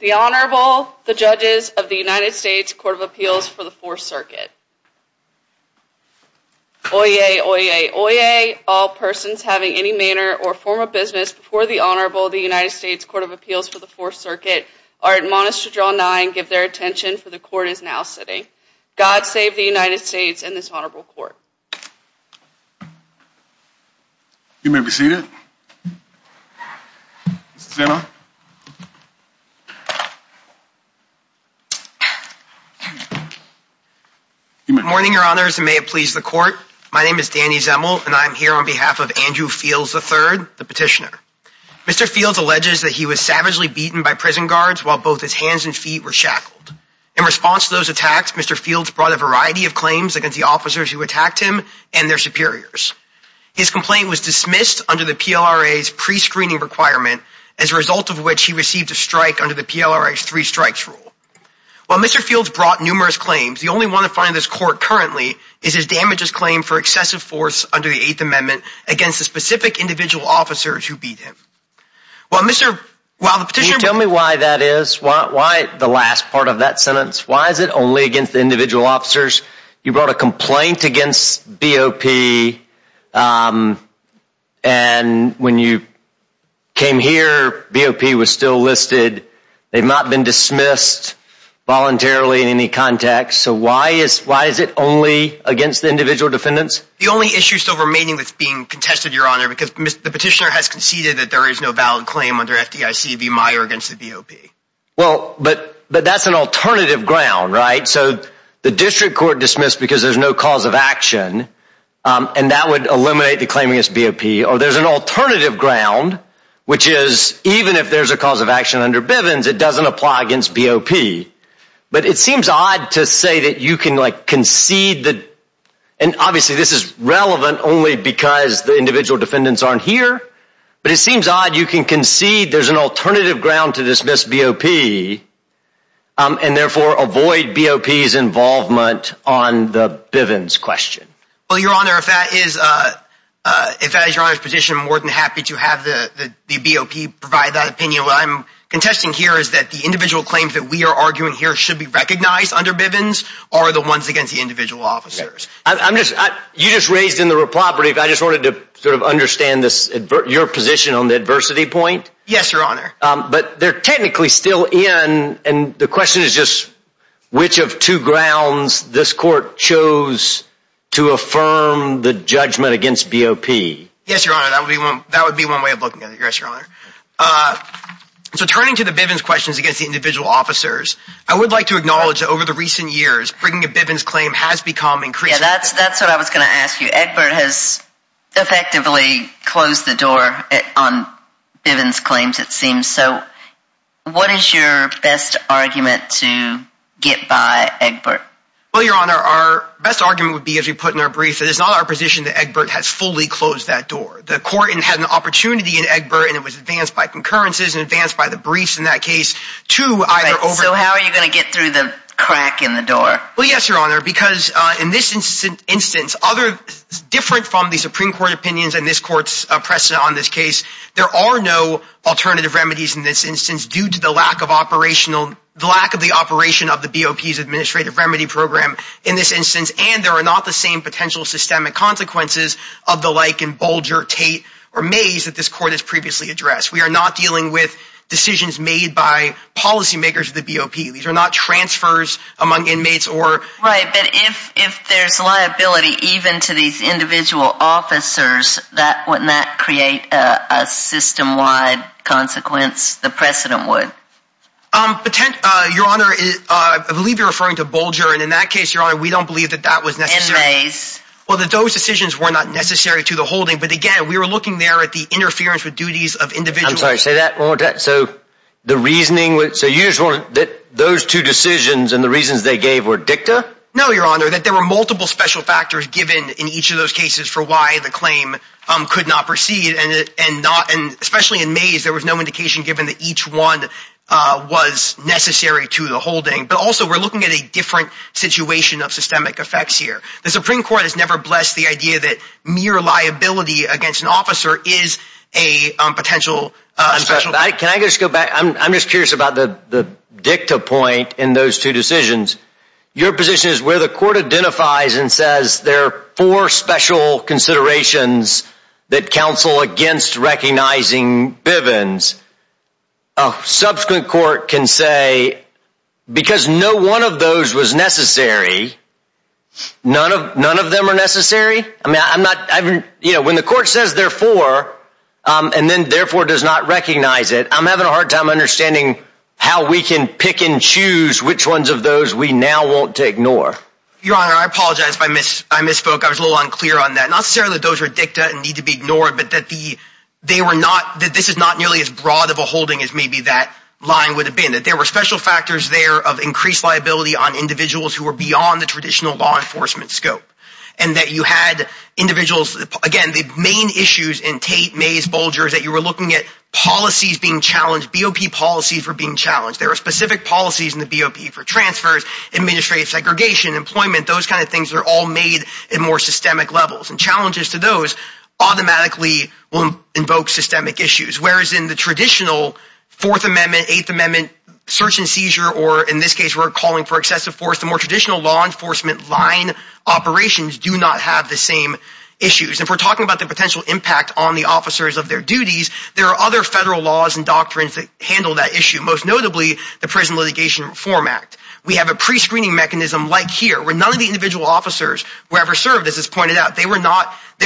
The Honorable, the Judges of the United States Court of Appeals for the Fourth Circuit. Oyez, oyez, oyez, all persons having any manner or form of business before the Honorable, the United States Court of Appeals for the Fourth Circuit, are admonished to draw nigh and give their attention, for the Court is now sitting. God save the United States and this Honorable Court. You may be seated. Good morning, Your Honors, and may it please the Court. My name is Danny Zemel and I am here on behalf of Andrew Fields, III, the petitioner. Mr. Fields alleges that he was savagely beaten by prison guards while both his hands and feet were shackled. In response to those attacks, Mr. Fields brought a variety of claims against the officers who attacked him and their superiors. His complaint was dismissed under the PLRA's pre-screening requirement, as a result of which he received a strike under the PLRA's three strikes rule. While Mr. Fields brought numerous claims, the only one to find this Court currently is his damages claim for excessive force under the Eighth Amendment against the specific individual officers who beat him. While Mr., while the petitioner... Why the last part of that sentence? Why is it only against the individual officers? You brought a complaint against BOP, um, and when you came here, BOP was still listed. They've not been dismissed voluntarily in any context, so why is, why is it only against the individual defendants? The only issue still remaining that's being contested, Your Honor, because the petitioner has conceded that there is no valid claim under FDIC v. BOP. Well, but, but that's an alternative ground, right? So the district court dismissed because there's no cause of action, um, and that would eliminate the claim against BOP. Or there's an alternative ground, which is even if there's a cause of action under Bivens, it doesn't apply against BOP. But it seems odd to say that you can, like, concede that, and obviously this is relevant only because the individual defendants aren't here, but it seems odd you can concede there's an alternative ground to dismiss BOP, um, and therefore avoid BOP's involvement on the Bivens question. Well, Your Honor, if that is, uh, uh, if that is Your Honor's petition, I'm more than happy to have the, the BOP provide that opinion. What I'm contesting here is that the individual claims that we are arguing here should be recognized under Bivens are the ones against the individual officers. I'm just, I, you just raised in the property, if I just wanted to understand this, your position on the adversity point. Yes, Your Honor. Um, but they're technically still in, and the question is just which of two grounds this court chose to affirm the judgment against BOP. Yes, Your Honor, that would be one, that would be one way of looking at it, yes, Your Honor. Uh, so turning to the Bivens questions against the individual officers, I would like to acknowledge that over the recent years, bringing a Bivens claim has become Yeah, that's, that's what I was going to ask you. Egbert has effectively closed the door on Bivens claims, it seems. So what is your best argument to get by Egbert? Well, Your Honor, our best argument would be, as we put in our brief, that it's not our position that Egbert has fully closed that door. The court had an opportunity in Egbert, and it was advanced by concurrences and advanced by the briefs in that case to either... So how are you going to get through the crack in the door? Well, yes, Your Honor, because in this instance, other, different from the Supreme Court opinions and this court's precedent on this case, there are no alternative remedies in this instance due to the lack of operational, the lack of the operation of the BOP's administrative remedy program in this instance, and there are not the same potential systemic consequences of the like in Bolger, Tate, or Mays that this court has previously addressed. We are not dealing with decisions made by policymakers of the BOP. These are not transfers among inmates or... Right, but if there's liability even to these individual officers, wouldn't that create a system-wide consequence, the precedent would? Your Honor, I believe you're referring to Bolger, and in that case, Your Honor, we don't believe that that was necessary. And Mays. Well, those decisions were not necessary to the holding, but again, we were looking there at the interference with duties of individuals. I'm wondering that those two decisions and the reasons they gave were dicta? No, Your Honor, that there were multiple special factors given in each of those cases for why the claim could not proceed, and especially in Mays, there was no indication given that each one was necessary to the holding. But also, we're looking at a different situation of systemic effects here. The Supreme Court has never blessed the idea that mere liability against an officer is a potential... Can I just go back? I'm just curious about the dicta point in those two decisions. Your position is where the court identifies and says there are four special considerations that counsel against recognizing Bivens. A subsequent court can say, because no one of those was necessary, none of them are necessary? I mean, when the court says there are four, and then therefore does not recognize it, I'm having a hard time understanding how we can pick and choose which ones of those we now want to ignore. Your Honor, I apologize if I misspoke. I was a little unclear on that. Not necessarily that those were dicta and need to be ignored, but that this is not nearly as broad of a holding as maybe that line would have been. That there were special factors there of increased liability on individuals who were beyond the traditional law enforcement scope. And that you had individuals... Again, the main issues in Tate, Mays, Bulgers, that you were looking at policies being challenged, BOP policies were being challenged. There are specific policies in the BOP for transfers, administrative segregation, employment, those kinds of things are all made in more systemic levels. And challenges to those automatically will invoke systemic issues. Whereas in the traditional Fourth Amendment, Eighth Amendment, search and seizure, or in this case, we're calling for excessive force, the more traditional law enforcement line operations do not have the same issues. If we're talking about the potential impact on the officers of their duties, there are other federal laws and doctrines that handle that issue. Most notably, the Prison Litigation Reform Act. We have a pre-screening mechanism like here, where none of the individual officers who ever served, as it's pointed out, there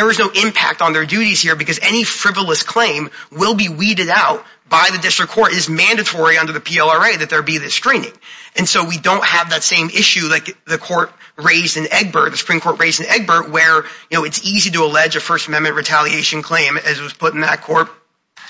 was no impact on their duties here because any frivolous claim will be weeded out by the district court. It is mandatory under the PLRA that there be this screening. And so we don't have that same issue like the court raised in Egbert, the Supreme Court raised in Egbert, where it's easy to allege a First Amendment retaliation claim as it was put in that court,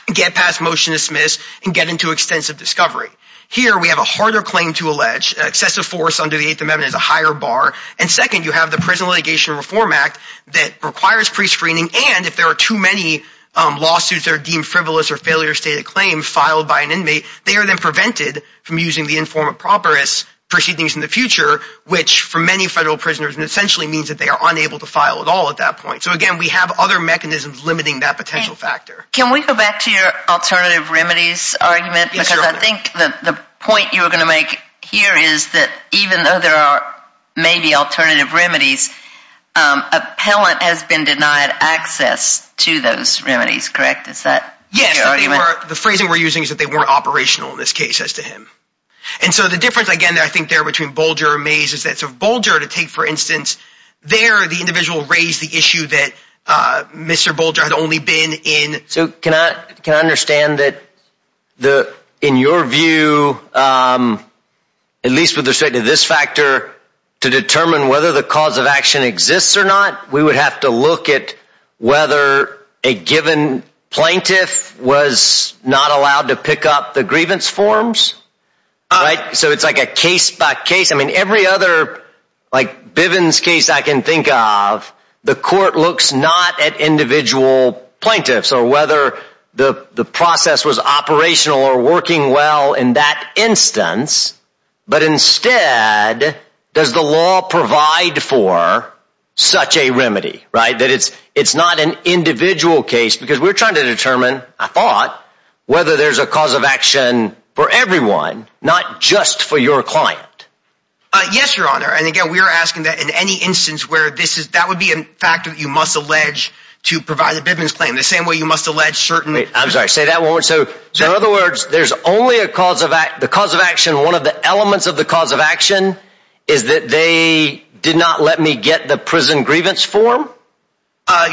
get past motion to dismiss, and get into extensive discovery. Here, we have a harder claim to allege, excessive force under the Eighth Amendment is a higher bar. And second, you have the Prison Litigation Reform Act that requires pre-screening. And if there are too many lawsuits that are deemed frivolous or failure to state a claim filed by an inmate, they are then prevented from using the informant proper as proceedings in the future, which for many federal prisoners essentially means that they are unable to file at all at that point. So again, we have other mechanisms limiting that potential factor. Can we go back to your alternative remedies argument? Because I think that the point you were going to make here is that even though there are maybe alternative remedies, appellant has been denied access to those remedies, correct? Is that your argument? Yes. The phrasing we're using is that they weren't operational in this case as to him. And so the difference, again, I think there between Bolger and Mays is that Bolger, to take for instance, there the individual raised the issue that Mr. Bolger had only been in. So can I understand that in your view, at least with respect to this factor, to determine whether the cause of action exists or not, we would have to look at whether a given plaintiff was not allowed to pick up the grievance forms, right? So it's like a case by case. I mean, every other like Bivens case I can think of, the court looks not at individual plaintiffs or whether the process was operational or working well in that instance. But instead, does the law provide for such a remedy, right? That it's not an individual case, because we're trying to determine, I thought, whether there's a cause of action for everyone, not just for your client. Yes, Your Honor. And again, we are asking that in any instance where this is, that would be a factor that you must allege to provide a Bivens claim, the same way you must allege certain... I'm sorry, say that one more time. So in other words, there's only a cause of act, the cause of action, one of the elements of the cause of action is that they did not let me get the prison grievance form?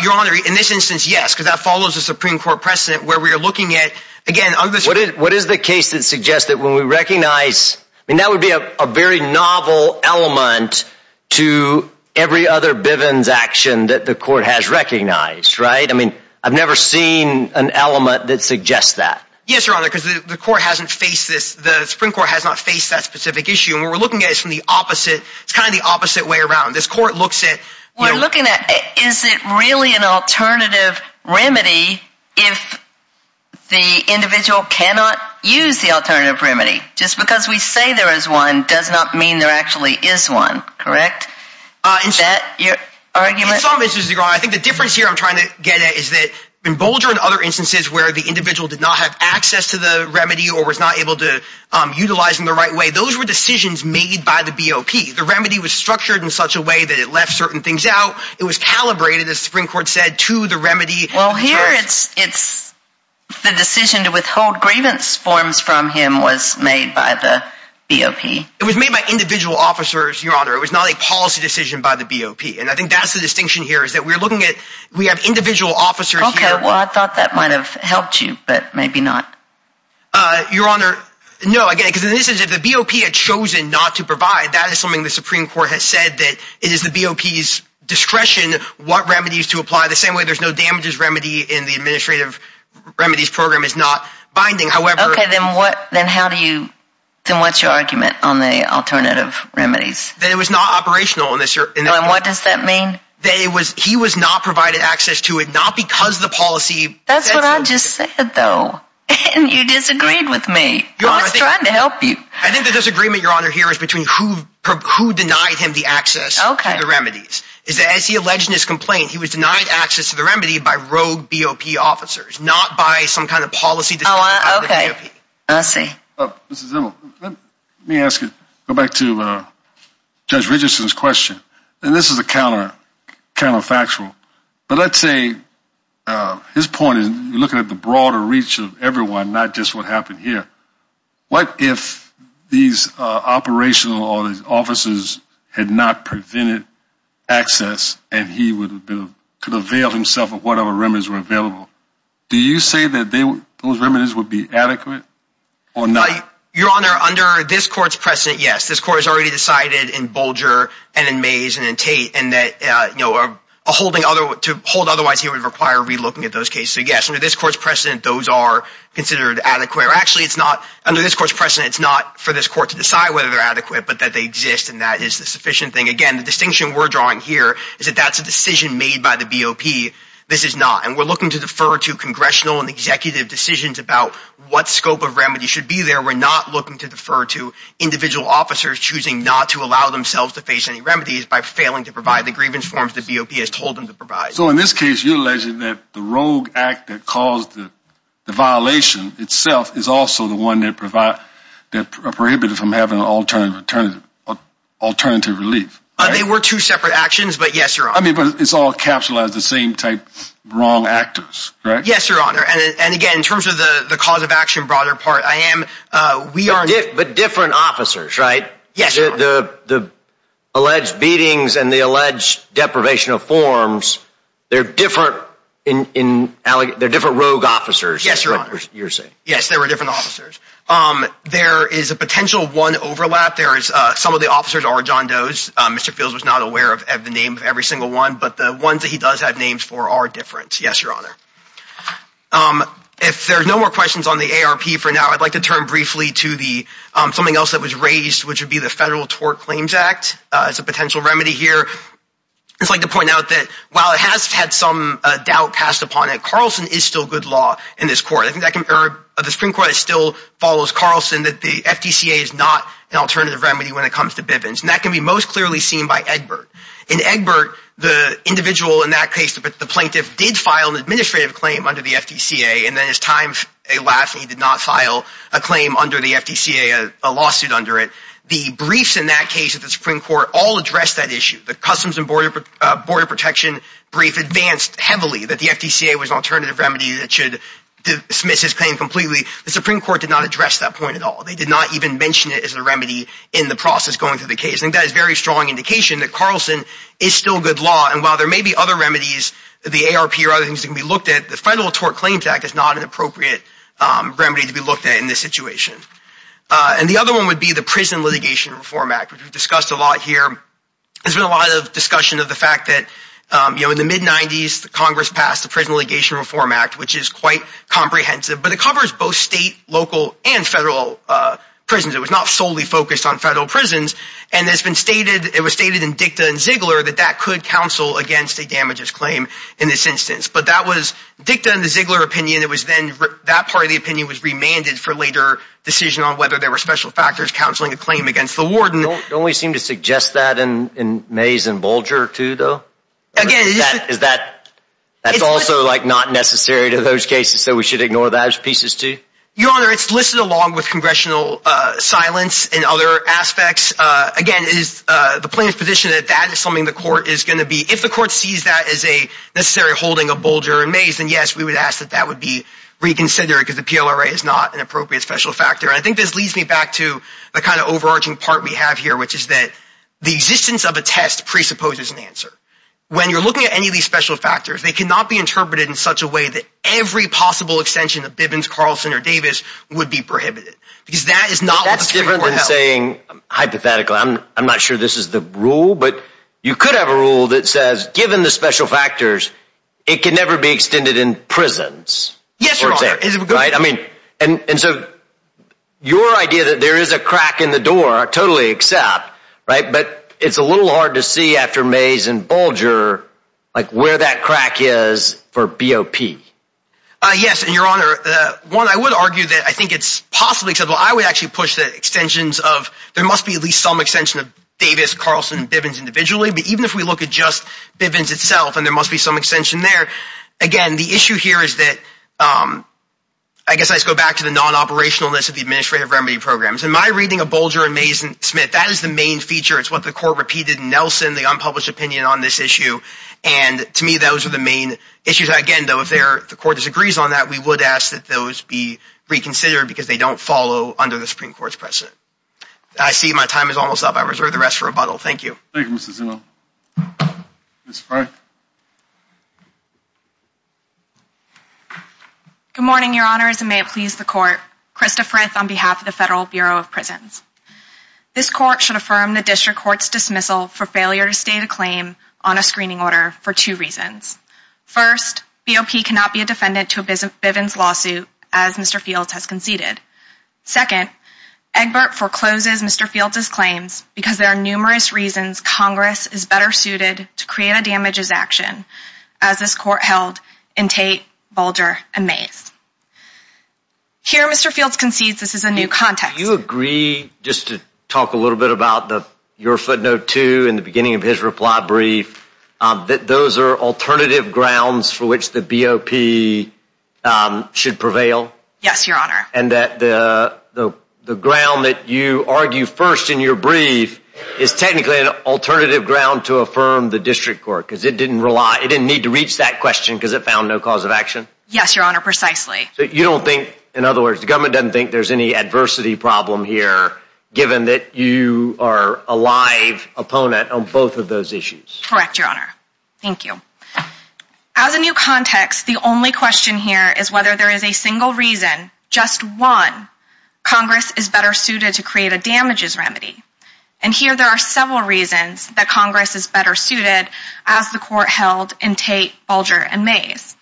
Your Honor, in this instance, yes, because that follows the Supreme Court precedent, where we are looking at, again... What is the case that suggests that when we recognize, I mean, that would be a very novel element to every other Bivens action that the court has recognized, right? I mean, I've never seen an element that suggests that. Yes, Your Honor, because the Supreme Court has not faced that specific issue. And what we're looking at is from the opposite, it's kind of the opposite way around. This court looks at... We're looking at, is it really an alternative remedy if the individual cannot use the alternative remedy? Just because we say there is one does not mean there actually is one, correct? In some instances, Your Honor, I think the difference here I'm trying to get at is that in Bolger and other instances where the individual did not have access to the remedy or was not able to utilize in the right way, those were decisions made by the BOP. The remedy was structured in such a way that it left certain things out. It was calibrated, as the Supreme Court said, to the remedy. Well, here it's the decision to withhold grievance forms from him was made by the BOP. It was made by individual officers, Your Honor. It was not a policy decision by the BOP. And I think that's the distinction here, is that we're looking at... We have individual officers here... Okay, well, I thought that might have helped you, but maybe not. Your Honor, no, I get it. Because in this instance, if the BOP had chosen not to provide, that is something the Supreme Court has said, that it is the BOP's discretion what remedies to apply. The same way there's no damages remedy in the administrative remedies program is not binding. However... Okay, then how do you... Then what's your argument on the alternative remedies? That it was not operational in this... And what does that mean? That he was not provided access to it, not because the policy... That's what I just said, though. And you disagreed with me. I was trying to help you. I think the disagreement, Your Honor, here is between who denied him the access to the remedies, is that as he alleged in his complaint, he was denied access to the remedy by rogue BOP officers, not by some kind of policy decision by the BOP. I see. Mrs. Zimmel, let me ask you, go back to Judge Richardson's question. And this is a counterfactual. But let's say his point is looking at the broader reach of everyone, not just what happened here. What if these operational officers had not prevented access and he could avail himself of whatever remedies were available? Do you say that those remedies would be adequate or not? Your Honor, under this court's precedent, yes. This court has already decided in Bolger require relooking at those cases. So yes, under this court's precedent, those are considered adequate. Actually, it's not under this court's precedent. It's not for this court to decide whether they're adequate, but that they exist. And that is the sufficient thing. Again, the distinction we're drawing here is that that's a decision made by the BOP. This is not. And we're looking to defer to congressional and executive decisions about what scope of remedy should be there. We're not looking to defer to individual officers choosing not to allow themselves to face any remedies by failing to provide the grievance forms the BOP has told them to provide. So in this case, you're alleging that the rogue act that caused the violation itself is also the one that prohibited from having alternative relief. They were two separate actions, but yes, Your Honor. I mean, but it's all capsulized the same type wrong actors, correct? Yes, Your Honor. And again, in terms of the cause of action, broader part, I am, we are... But different officers, right? Yes, Your Honor. The alleged beatings and the alleged deprivation of forms, they're different rogue officers. Yes, Your Honor. You're saying. Yes, there were different officers. There is a potential one overlap. There is some of the officers are John Doe's. Mr. Fields was not aware of the name of every single one, but the ones that he does have names for are different. Yes, Your Honor. If there's no more questions on the ARP for now, I'd like to turn briefly to the something else that was raised, which would be the Federal Tort Claims Act as a potential remedy here. It's like to point out that while it has had some doubt passed upon it, Carlson is still good law in this court. I think the Supreme Court still follows Carlson that the FDCA is not an alternative remedy when it comes to Bivens. And that can be most clearly seen by Egbert. In Egbert, the individual in that case, the plaintiff did file an administrative claim under the FDCA. And then his time, lastly, he did not file a claim under the FDCA, a lawsuit under it. The briefs in that case at the Supreme Court all addressed that issue. The Customs and Border Protection brief advanced heavily that the FDCA was an alternative remedy that should dismiss his claim completely. The Supreme Court did not address that point at all. They did not even mention it as a remedy in the process going through the case. And that is a very strong indication that Carlson is still good law. And while there may be other remedies, the ARP or other things that can be is not an appropriate remedy to be looked at in this situation. And the other one would be the Prison Litigation Reform Act, which we've discussed a lot here. There's been a lot of discussion of the fact that in the mid-'90s, Congress passed the Prison Litigation Reform Act, which is quite comprehensive. But it covers both state, local, and federal prisons. It was not solely focused on federal prisons. And it was stated in DICTA and Ziegler that that could counsel against a damages claim in this instance. But that was DICTA and the Ziegler opinion. That part of the opinion was remanded for later decision on whether there were special factors counseling a claim against the warden. Don't we seem to suggest that in Mays and Bulger, too, though? That's also not necessary to those cases, so we should ignore those pieces, too? Your Honor, it's listed along with congressional silence and other aspects. Again, the plaintiff's position that that is something the court is going to be, if the court sees that as a necessary holding of Bulger and Mays, then yes, we would ask that that would be reconsidered because the PLRA is not an appropriate special factor. And I think this leads me back to the kind of overarching part we have here, which is that the existence of a test presupposes an answer. When you're looking at any of these special factors, they cannot be interpreted in such a way that every possible extension of Bivens, Carlson, or Davis would be prohibited. Because that is not what the Supreme Court held. That's different than saying, hypothetically, I'm not sure this is the rule, but you could have a rule that says, given the special factors, it can never be extended in prisons. And so your idea that there is a crack in the door, I totally accept, but it's a little hard to see after Mays and Bulger where that crack is for BOP. Yes, and Your Honor, one, I would argue that I think it's possibly acceptable. I would actually push the extensions of, there must be at least some extension of Davis, Carlson, and Bivens individually. But even if we look at just Bivens itself, and there must be some extension there, again, the issue here is that, I guess I just go back to the non-operationalness of the administrative remedy programs. In my reading of Bulger and Mays and Smith, that is the main feature. It's what the Court repeated in Nelson, the unpublished opinion on this issue. And to me, those are the main issues. Again, though, if the Court disagrees on that, we would ask that those be reconsidered because they don't follow under the Supreme Court's precedent. I see my time is almost up. I reserve the rest for rebuttal. Thank you. Thank you, Mr. Zinno. Ms. Frith. Good morning, Your Honors, and may it please the Court. Krista Frith on behalf of the Federal Bureau of Prisons. This Court should affirm the District Court's dismissal for failure to state a claim on a screening order for two reasons. First, BOP cannot be a defendant to a Bivens lawsuit as Mr. Fields has conceded. Second, Egbert forecloses Mr. Fields' claims because there are numerous reasons Congress is better suited to create a damages action as this Court held in Tate, Bulger, and Mays. Here Mr. Fields concedes this is a new context. Do you agree, just to talk a little bit about your footnote two in the beginning of his reply brief, that those are alternative grounds for which the BOP should prevail? Yes, Your Honor. And that the you argue first in your brief is technically an alternative ground to affirm the District Court because it didn't need to reach that question because it found no cause of action? Yes, Your Honor, precisely. So you don't think, in other words, the government doesn't think there's any adversity problem here given that you are a live opponent on both of those issues? Correct, Your Honor. Thank you. As a new context, the only question here is whether there is a single reason, just one, Congress is better suited to create a damages remedy. And here there are several reasons that Congress is better suited as the Court held in Tate, Bulger, and Mays.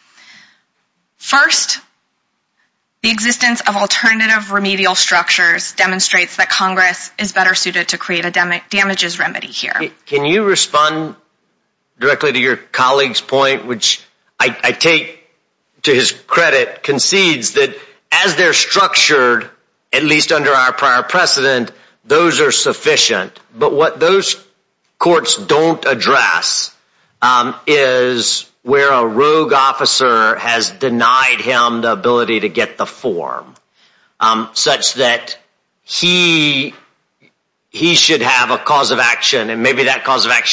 First, the existence of alternative remedial structures demonstrates that Congress is better suited to create a damages remedy here. Can you respond directly to your colleague's to his credit concedes that as they're structured, at least under our prior precedent, those are sufficient. But what those courts don't address is where a rogue officer has denied him the ability to get the form such that he should have a cause of action. And maybe that cause of has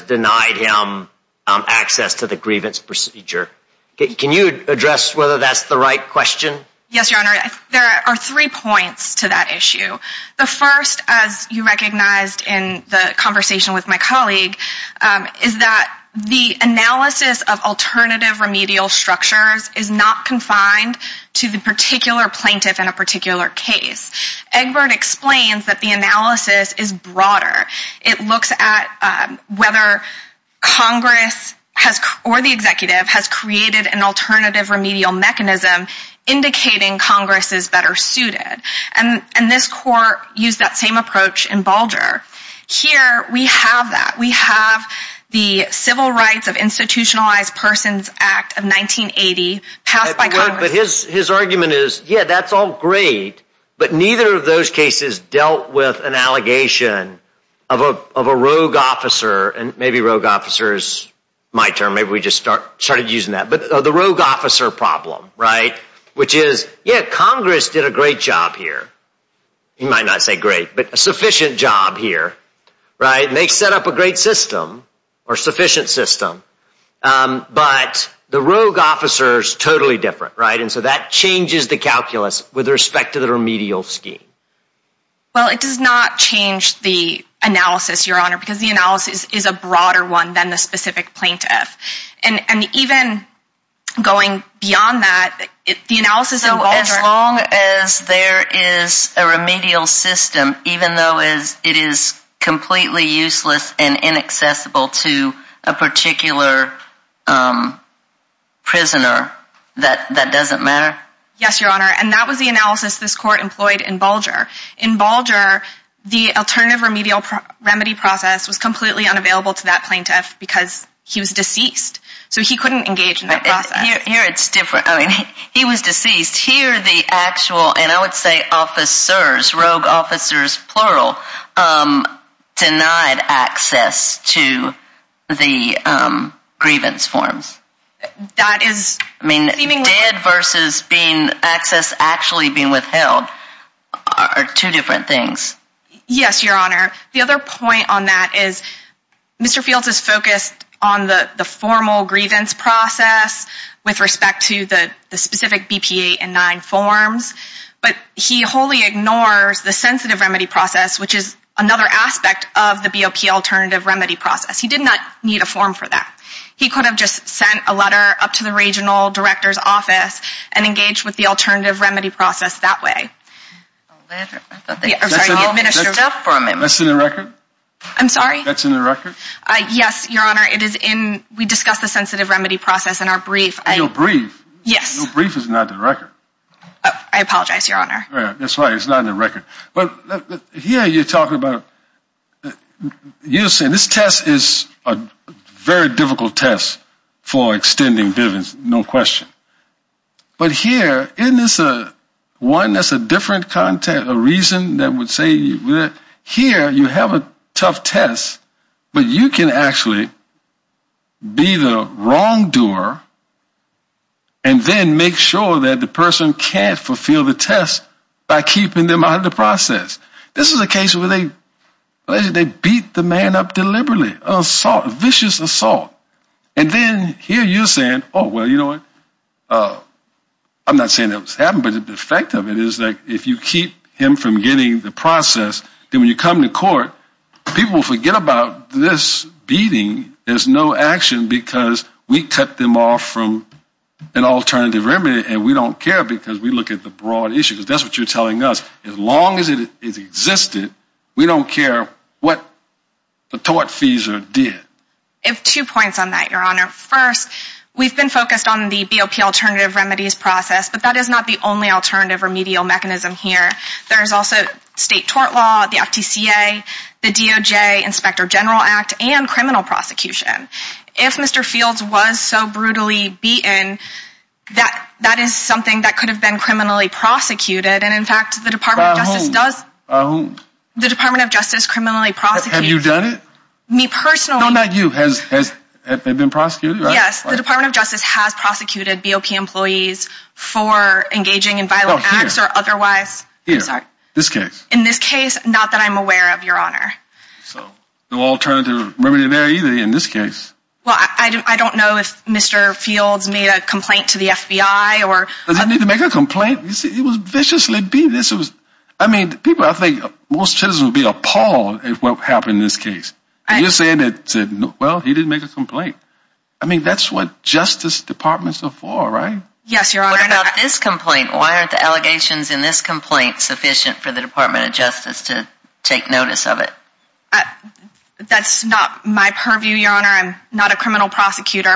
denied him access to the grievance procedure. Can you address whether that's the right question? Yes, Your Honor, there are three points to that issue. The first, as you recognized in the conversation with my colleague, is that the analysis of alternative remedial structures is not confined to the particular plaintiff in a particular case. Egbert explains that the analysis is broader. It looks at whether Congress or the executive has created an alternative remedial mechanism indicating Congress is better suited. And this Court used that same approach in Bulger. Here we have that. We have the Civil Rights of Institutionalized Persons Act of 1980 passed by Congress. But his argument is, yeah, that's all great, but neither of those cases dealt with an allegation of a rogue officer. And maybe rogue officer is my term. Maybe we just started using that. But the rogue officer problem, right, which is, yeah, Congress did a great job here. You might not say great, but a sufficient job here, right? And they set up a great system or sufficient system. But the rogue officer is totally different, right? And so that changes the calculus with respect to the remedial scheme. Well, it does not change the analysis, Your Honor, because the analysis is a broader one than the specific plaintiff. And even going beyond that, the analysis... So as long as there is a remedial system, even though it is completely useless and inaccessible to a particular prisoner, that doesn't matter? Yes, Your Honor. And that was the analysis this court employed in Bulger. In Bulger, the alternative remedial remedy process was completely unavailable to that plaintiff because he was deceased. So he couldn't engage in that process. Here it's different. I mean, he was deceased. Here the actual, and I would say officers, rogue officers, plural, denied access to the grievance forms. That is... I mean, dead versus access actually being withheld are two different things. Yes, Your Honor. The other point on that is Mr. Fields is focused on the formal grievance process with respect to the specific BP-8 and 9 forms, but he wholly ignores the sensitive remedy process, which is another aspect of the BOP alternative remedy process. He did not need a form for that. He could have just sent a letter up to the regional director's office and engaged with the alternative remedy process that way. That's in the record? I'm sorry? That's in the record? Yes, Your Honor. It is in... We discussed the sensitive remedy process in our brief. In your brief? Yes. Your brief is not in the record. I apologize, Your Honor. That's why it's not in the record. But for extending grievance, no question. But here, isn't this one that's a different context, a reason that would say here you have a tough test, but you can actually be the wrongdoer and then make sure that the person can't fulfill the test by keeping them out of the process. This is a case where they beat the man up deliberately, a vicious assault. And then here you're saying, oh, well, you know what? I'm not saying that was happening, but the effect of it is that if you keep him from getting the process, then when you come to court, people forget about this beating. There's no action because we cut them off from an alternative remedy and we don't care because we look at the broad issue, because that's what you're telling us. As long as it is existed, we don't care what the tortfeasor did. I have two points on that, Your Honor. First, we've been focused on the BOP alternative remedies process, but that is not the only alternative remedial mechanism here. There's also state tort law, the FTCA, the DOJ, Inspector General Act, and criminal prosecution. If Mr. Fields was so brutally beaten, that is something that could have been criminally prosecuted. And in fact, the Department of Justice does. By whom? By whom? The Department of Justice criminally prosecutes. Have you done it? Me personally. No, not you. Has it been prosecuted? Yes, the Department of Justice has prosecuted BOP employees for engaging in violent acts or otherwise. Here, this case. In this case, not that I'm aware of, Your Honor. So, no alternative remedy there either in this case. Well, I don't know if Mr. Fields made a complaint to the FBI or... He didn't need to make a complaint. You see, he was viciously beaten. I mean, people, I think most citizens would be appalled at what happened in this case. And you're saying that, well, he didn't make a complaint. I mean, that's what justice departments are for, right? Yes, Your Honor. What about this complaint? Why aren't the allegations in this complaint sufficient for the Department of Justice to take notice of it? That's not my purview, Your Honor. I'm not a criminal prosecutor,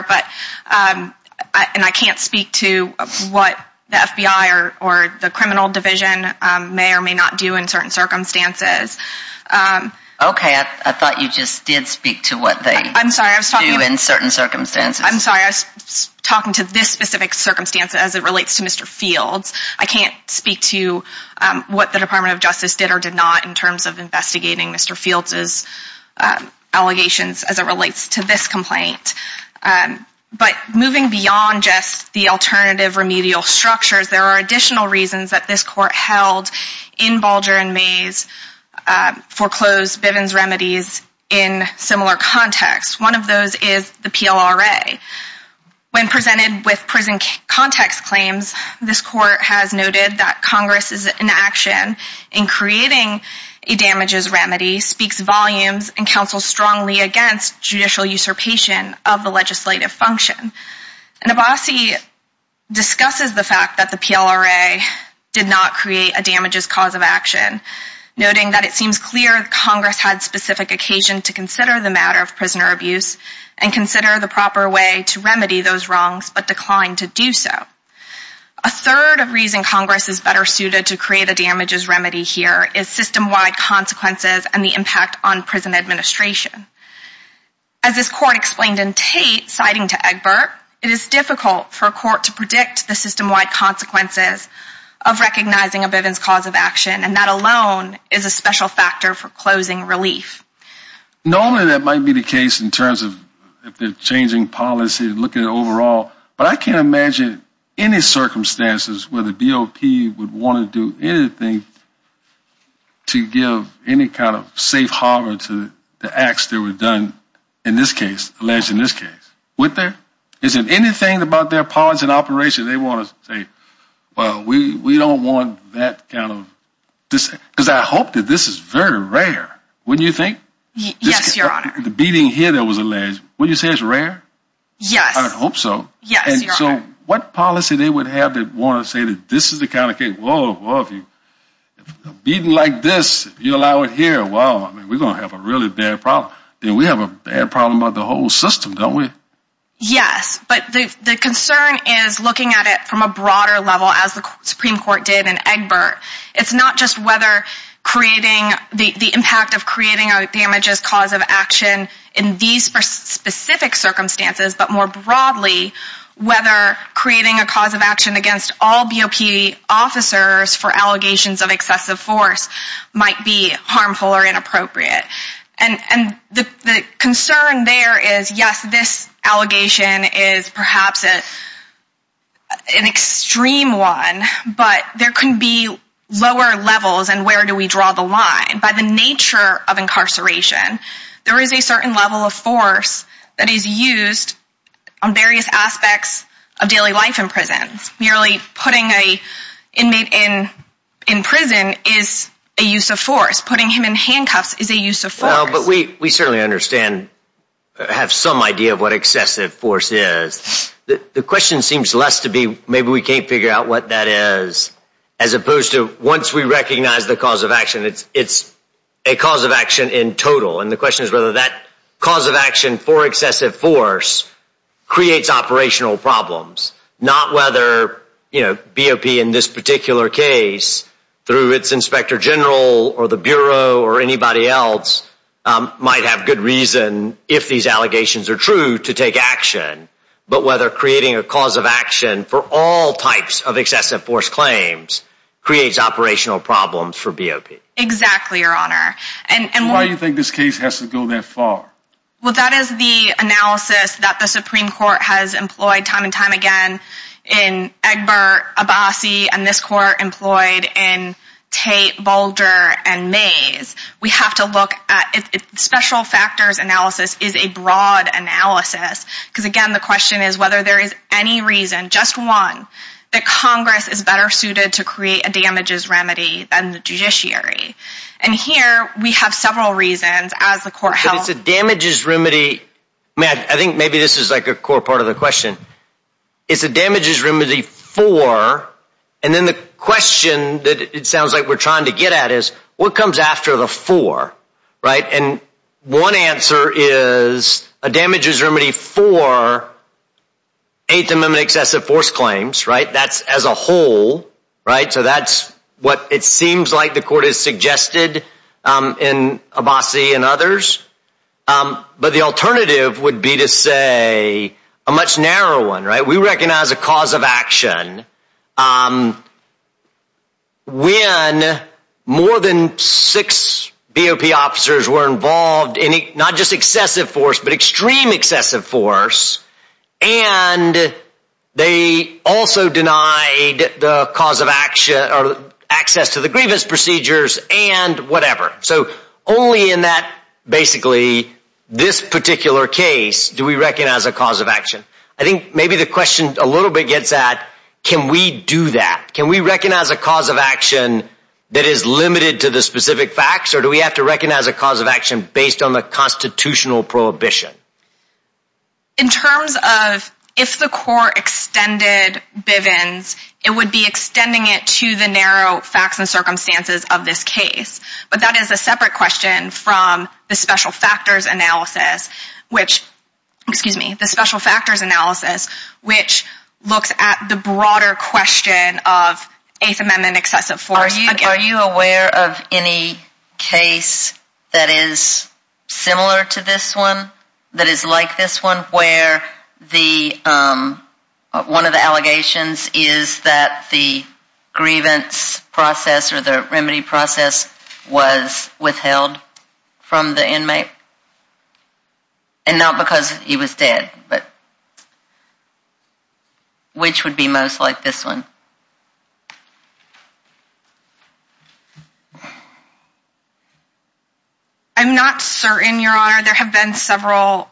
and I can't speak to what the FBI or the criminal division may or may not do in certain circumstances. Okay, I thought you just did speak to what they do in certain circumstances. I'm sorry, I was talking to this specific circumstance as it relates to Mr. Fields. I can't speak to what the Department of Justice did or did not in terms of to this complaint. But moving beyond just the alternative remedial structures, there are additional reasons that this court held in Bulger and Mays foreclosed Bivens remedies in similar contexts. One of those is the PLRA. When presented with prison context claims, this court has noted that Congress is in action in creating a damages remedy, speaks volumes, and counsels strongly against judicial usurpation of the legislative function. Nabassi discusses the fact that the PLRA did not create a damages cause of action, noting that it seems clear Congress had specific occasion to consider the matter of prisoner abuse and consider the proper way to remedy those wrongs but declined to do so. A third of reason Congress is better suited to create a damages remedy here is system-wide consequences and the impact on prison administration. As this court explained in Tate, citing to Egbert, it is difficult for a court to predict the system-wide consequences of recognizing a Bivens cause of action and that alone is a special factor for closing relief. Normally that might be the case in terms of if they're changing policy, looking at overall, but I can't imagine any circumstances where the BOP would want to do anything to give any kind of safe harbor to the acts that were done in this case, alleged in this case, would there? Is it anything about their policy and operation they want to say, well we don't want that kind of, because I hope that this is very rare, wouldn't you think? Yes, your honor. The beating Yes, your honor. So what policy they would have that want to say that this is the kind of case, whoa, whoa, if you beating like this, if you allow it here, wow, I mean we're going to have a really bad problem. Then we have a bad problem of the whole system, don't we? Yes, but the concern is looking at it from a broader level as the Supreme Court did in Egbert. It's not just whether creating the impact of creating a damages cause of action in these specific circumstances, but more broadly whether creating a cause of action against all BOP officers for allegations of excessive force might be harmful or inappropriate. And the concern there is yes, this allegation is perhaps an extreme one, but there can be lower levels and where do we draw the line. By the nature of incarceration, there is a certain level of force that is used on various aspects of daily life in prisons. Merely putting an inmate in prison is a use of force. Putting him in handcuffs is a use of force. Well, but we certainly understand, have some idea of what excessive force is. The question seems less to be maybe we can't figure out what that is as opposed to once we in total. And the question is whether that cause of action for excessive force creates operational problems. Not whether BOP in this particular case through its inspector general or the bureau or anybody else might have good reason if these allegations are true to take action. But whether creating a cause of action for all types of excessive force claims creates operational problems for BOP. Exactly, your honor. And why do you think this case has to go that far? Well, that is the analysis that the Supreme Court has employed time and time again in Egbert, Abbasi, and this court employed in Tate, Boulder, and Mays. We have to look at it. Special factors analysis is a broad analysis because again, the question is whether there is any reason, just one, that Congress is better suited to create a damages remedy than the judiciary. And here we have several reasons as the court held. It's a damages remedy, Matt, I think maybe this is like a core part of the question. It's a damages remedy for, and then the question that it sounds like we're trying to get at is what comes after the for, right? And one answer is a damages remedy for Eighth Amendment excessive force claims, right? That's as a whole, right? So that's what it seems like the court has suggested in Abbasi and others. But the alternative would be to say a much narrower one, right? We recognize a cause of action when more than six BOP officers were involved in not just excessive force, but extreme excessive force, and they also denied the cause of action or access to the grievance procedures and whatever. So only in that, basically, this particular case do we a little bit gets at, can we do that? Can we recognize a cause of action that is limited to the specific facts or do we have to recognize a cause of action based on the constitutional prohibition? In terms of if the court extended Bivens, it would be extending it to the narrow facts and circumstances of this case. But that is a separate question from the special factors analysis, which, excuse me, the special factors analysis, which looks at the broader question of Eighth Amendment excessive force. Are you aware of any case that is similar to this one that is like this one where the, one of the allegations is that the grievance process or the remedy process was withheld from the inmate? And not because he was dead, but which would be most like this one? I'm not certain, Your Honor. There have been several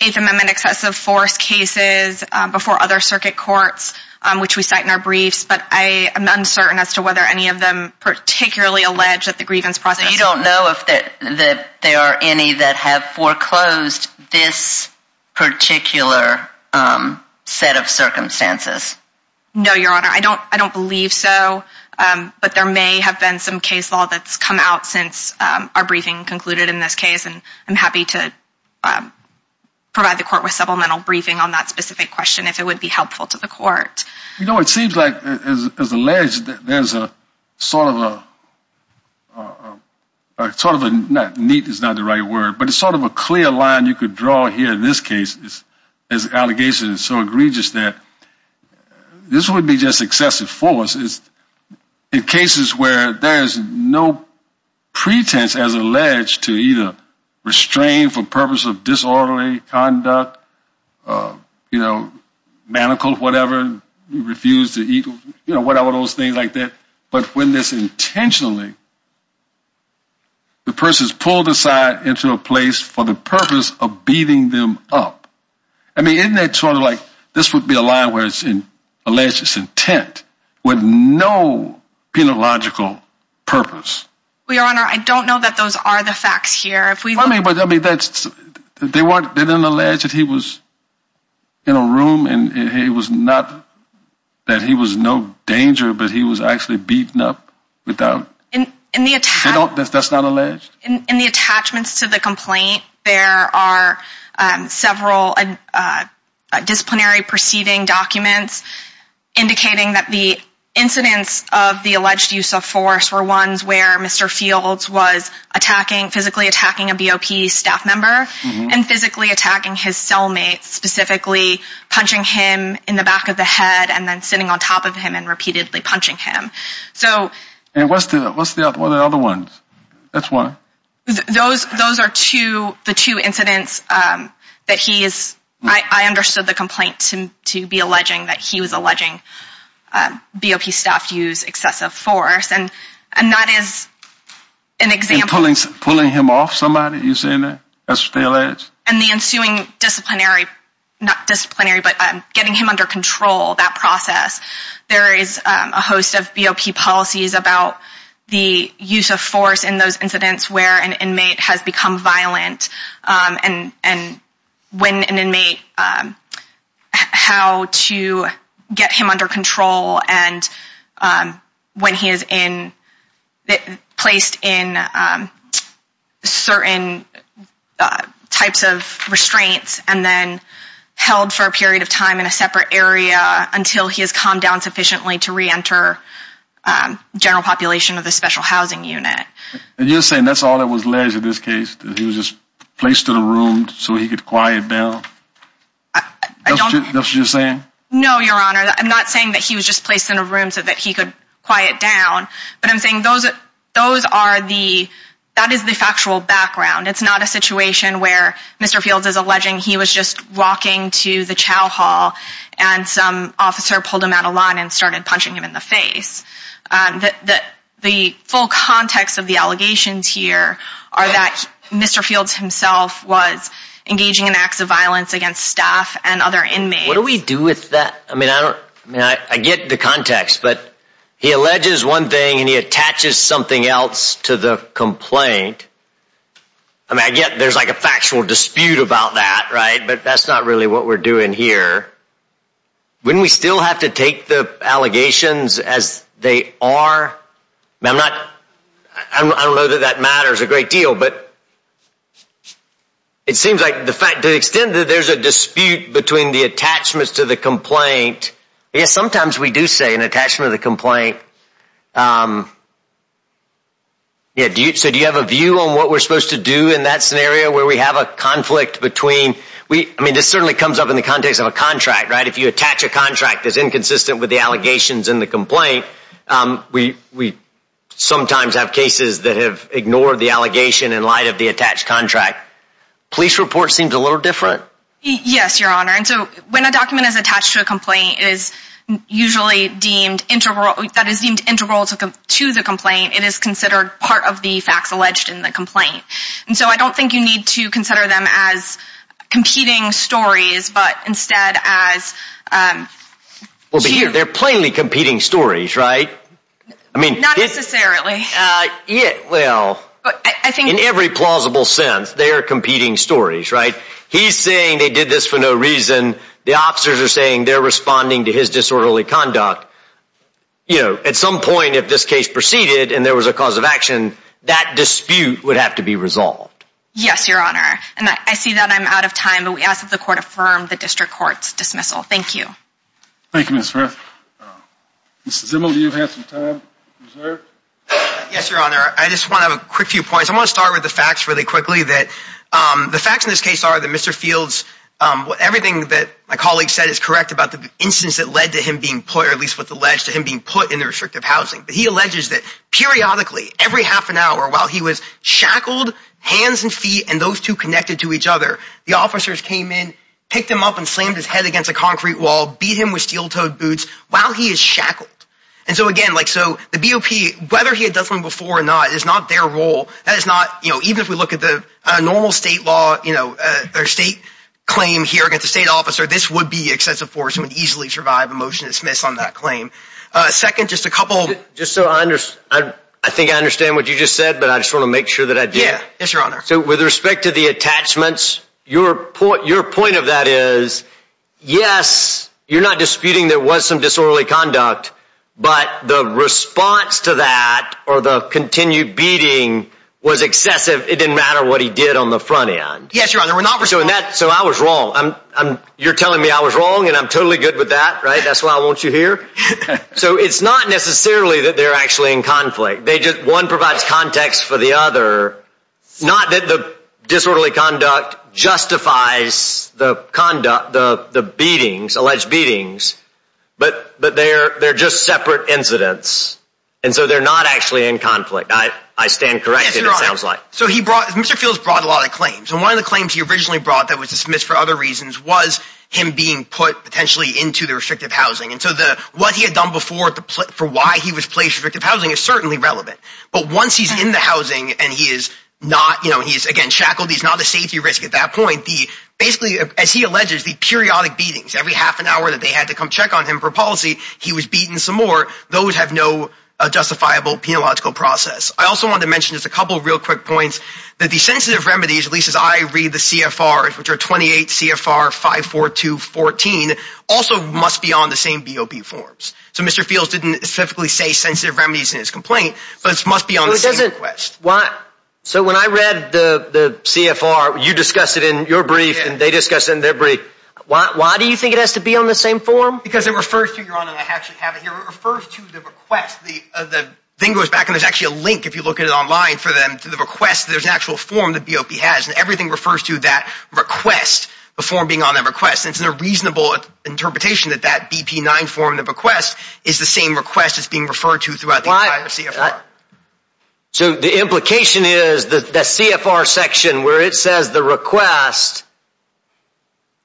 Eighth Amendment excessive force cases before other circuit courts, which we cite in our briefs, but I am uncertain as to whether any of them particularly allege that the grievance process... So you don't know if there are any that have foreclosed this particular set of circumstances? No, Your Honor. I don't believe so, but there may have been some case law that's come out since our briefing concluded in this case, and I'm happy to provide the court with supplemental briefing on that specific question if it would be helpful to the court. You know, it seems like, as alleged, there's a sort of a, a sort of a, neat is not the right word, but it's sort of a clear line you could draw here in this case. This allegation is so egregious that this would be just excessive force in cases where there's no pretense as alleged to either restrain for purpose of disorderly conduct, uh, you know, manacled, whatever, refused to eat, you know, whatever, those things like that, but when this intentionally, the person's pulled aside into a place for the purpose of beating them up, I mean, isn't that sort of like, this would be a line where it's in alleged intent with no penological purpose? Your Honor, I don't know that those are the things that you're talking about. I mean, he was in a room and he was not, that he was no danger, but he was actually beaten up without, that's not alleged? In the attachments to the complaint, there are several disciplinary proceeding documents indicating that the incidents of the alleged use of force were ones where Mr. Fields was attacking, physically attacking a BOP staff and physically attacking his cellmates, specifically punching him in the back of the head and then sitting on top of him and repeatedly punching him. And what's the other ones? That's one. Those are the two incidents that he is, I understood the complaint to be alleging that he was alleging BOP staff use excessive force and that is an example. And pulling him off somebody, you're saying that? That's what that is? And the ensuing disciplinary, not disciplinary, but getting him under control, that process. There is a host of BOP policies about the use of force in those incidents where an inmate has become violent and when an inmate, how to put it, has become violent and then held for a period of time in a separate area until he has calmed down sufficiently to re-enter general population of the special housing unit. And you're saying that's all that was alleged in this case? That he was just placed in a room so he could quiet down? That's what you're saying? No, Your Honor. I'm not saying that he was just placed in a room so that he could down. But I'm saying those are the, that is the factual background. It's not a situation where Mr. Fields is alleging he was just walking to the chow hall and some officer pulled him out of line and started punching him in the face. The full context of the allegations here are that Mr. Fields himself was engaging in acts of violence against staff and other inmates. What do we do with that? I mean, I don't, I mean, I get the context, but he alleges one thing and he attaches something else to the complaint. I mean, I get there's like a factual dispute about that, right? But that's not really what we're doing here. Wouldn't we still have to take the allegations as they are? I mean, I'm not, I don't know that that matters a great deal, but it seems like the fact, to the extent that there's a dispute between the attachments to the complaint, yes, sometimes we do say an attachment of the complaint. Yeah, so do you have a view on what we're supposed to do in that scenario where we have a conflict between, we, I mean, this certainly comes up in the context of a contract, right? If you attach a contract that's inconsistent with the allegations in the complaint, we sometimes have cases that have ignored the allegation in light of the attached contract. Police report seems a little different. Yes, your honor. And so when a document is attached to a complaint is usually deemed integral, that is deemed integral to the complaint, it is considered part of the facts alleged in the complaint. And so I don't think you need to consider them as competing stories, but instead as, well, but here, they're plainly competing stories, right? I mean, not necessarily. Well, in every plausible sense, they are competing stories, right? He's saying they did this for no reason. The officers are saying they're responding to his disorderly conduct. You know, at some point, if this case proceeded and there was a cause of action, that dispute would have to be resolved. Yes, your honor. And I see that I'm out of time, but we ask that the court affirm the district court's dismissal. Thank you. Thank you, Ms. Smith. Mr. Zimmel, do you have some time reserved? Yes, your honor. I just want to have a quick few points. I want to start with the facts really quickly that the facts in this case are that Mr. Fields, everything that my colleague said is correct about the instance that led to him being put, or at least what's alleged to him being put in the restrictive housing. But he alleges that periodically, every half an hour, while he was picked him up and slammed his head against a concrete wall, beat him with steel-toed boots while he is shackled. And so again, like, so the BOP, whether he had done something before or not, it is not their role. That is not, you know, even if we look at the normal state law, you know, their state claim here against the state officer, this would be excessive force and would easily survive a motion to dismiss on that claim. Second, just a couple. Just so I understand, I think I understand what you just said, but I just want to make sure that I did. Yes, your honor. So with respect to the attachments, your point of that is, yes, you're not disputing there was some disorderly conduct, but the response to that or the continued beating was excessive. It didn't matter what he did on the front end. Yes, your honor. So I was wrong. You're telling me I was wrong and I'm totally good with that, right? That's why I want you here. So it's not necessarily that they're actually in conflict. They just, one provides context for the other. Not that the disorderly conduct justifies the conduct, the beatings, alleged beatings, but they're just separate incidents. And so they're not actually in conflict. I stand corrected, it sounds like. So he brought, Mr. Fields brought a lot of claims. And one of the claims he originally brought that was dismissed for other reasons was him being put potentially into the restrictive housing. And so what he had done before for why he was placed in restrictive housing is certainly relevant. But once he's in the housing and he is not, you know, he's again shackled, he's not a safety risk at that point. Basically, as he alleges, the periodic beatings, every half an hour that they had to come check on him for policy, he was beaten some more. Those have no justifiable penological process. I also want to mention just a couple of real quick points that the sensitive remedies, at least as I read the CFR, which are 28 CFR 54214, also must be on the same BOP forms. So Mr. Fields didn't specifically say sensitive remedies in his complaint, but it must be on the same request. So when I read the CFR, you discussed it in your brief and they discussed it in their brief. Why do you think it has to be on the same form? Because it refers to, Your Honor, and I actually have it here, it refers to the request. The thing goes back, and there's actually a link if you look at it online for them, to the request. There's an actual form that BOP has and everything refers to that request, the form being on that request. It's a reasonable interpretation that that BP 9 form of the request is the same request that's being referred to throughout the entire CFR. So the implication is that the CFR section where it says the request,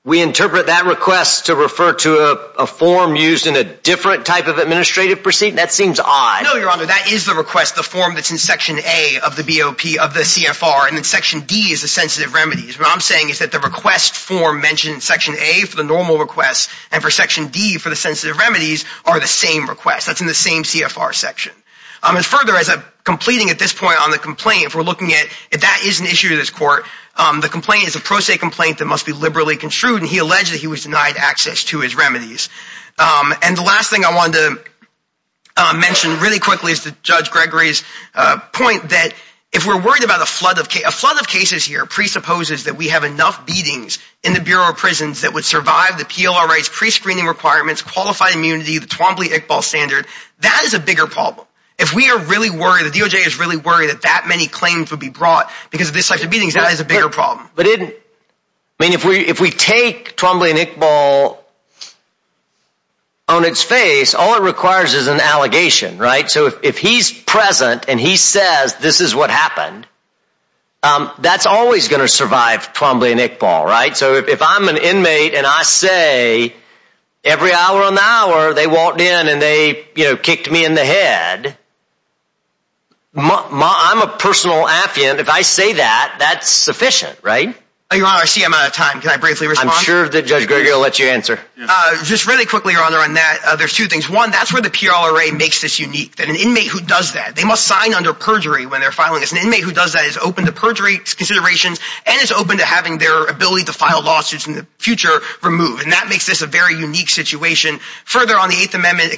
we interpret that request to refer to a form used in a different type of administrative proceeding? That seems odd. No, Your Honor, that is the request, the form that's in section A of the BOP of the CFR, and then section D is the sensitive remedies. What I'm saying is that the request form mentioned in section A for the normal request and for section D for the sensitive remedies are the same requests. That's in the same CFR section. And further, as I'm completing at this point on the complaint, if we're looking at if that is an issue to this court, the complaint is a pro se complaint that must be liberally construed and he alleged that he was denied access to his remedies. And the last thing I wanted to mention really quickly is to Judge Gregory's point that if we're worried about a flood of cases, a flood of cases here presupposes that we have enough beatings in the Bureau of Prisons that would survive the PLR rights, pre-screening requirements, qualified immunity, the Twombly-Iqbal standard, that is a bigger problem. If we are really worried, the DOJ is really worried that that many claims would be brought because of this type of beatings, that is a bigger problem. But if we take Twombly and Iqbal on its face, all it requires is an allegation, right? So if he's present and he says this is what happened, that's always going to survive Twombly and Iqbal, right? So if I'm an inmate and I say every hour on the hour they walked in and they kicked me in the head, I'm a personal affiant. If I say that, that's sufficient, right? Your Honor, I see I'm out of time. Can I briefly respond? I'm sure that Judge Gregory will let you answer. Just really quickly, Your Honor, on that, there's two things. One, that's where the PLRA makes this an inmate who does that is open to perjury considerations and is open to having their ability to file lawsuits in the future removed. And that makes this a very unique situation. Further, on the Eighth Amendment,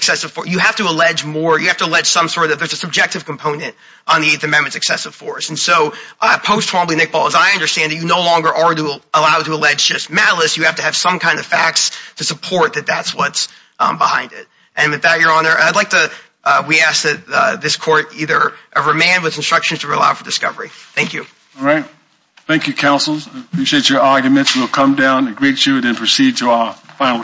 you have to allege more, you have to allege some sort of, there's a subjective component on the Eighth Amendment's excessive force. And so post-Twombly, Iqbal, as I understand it, you no longer are allowed to allege just malice. You have to have some kind of facts to support that that's what's behind it. And with that, Your Honor, I'd like to, we ask that this Court either remand with instructions to allow for discovery. Thank you. All right. Thank you, counsels. I appreciate your arguments. We'll come down and greet you and then proceed to our final case.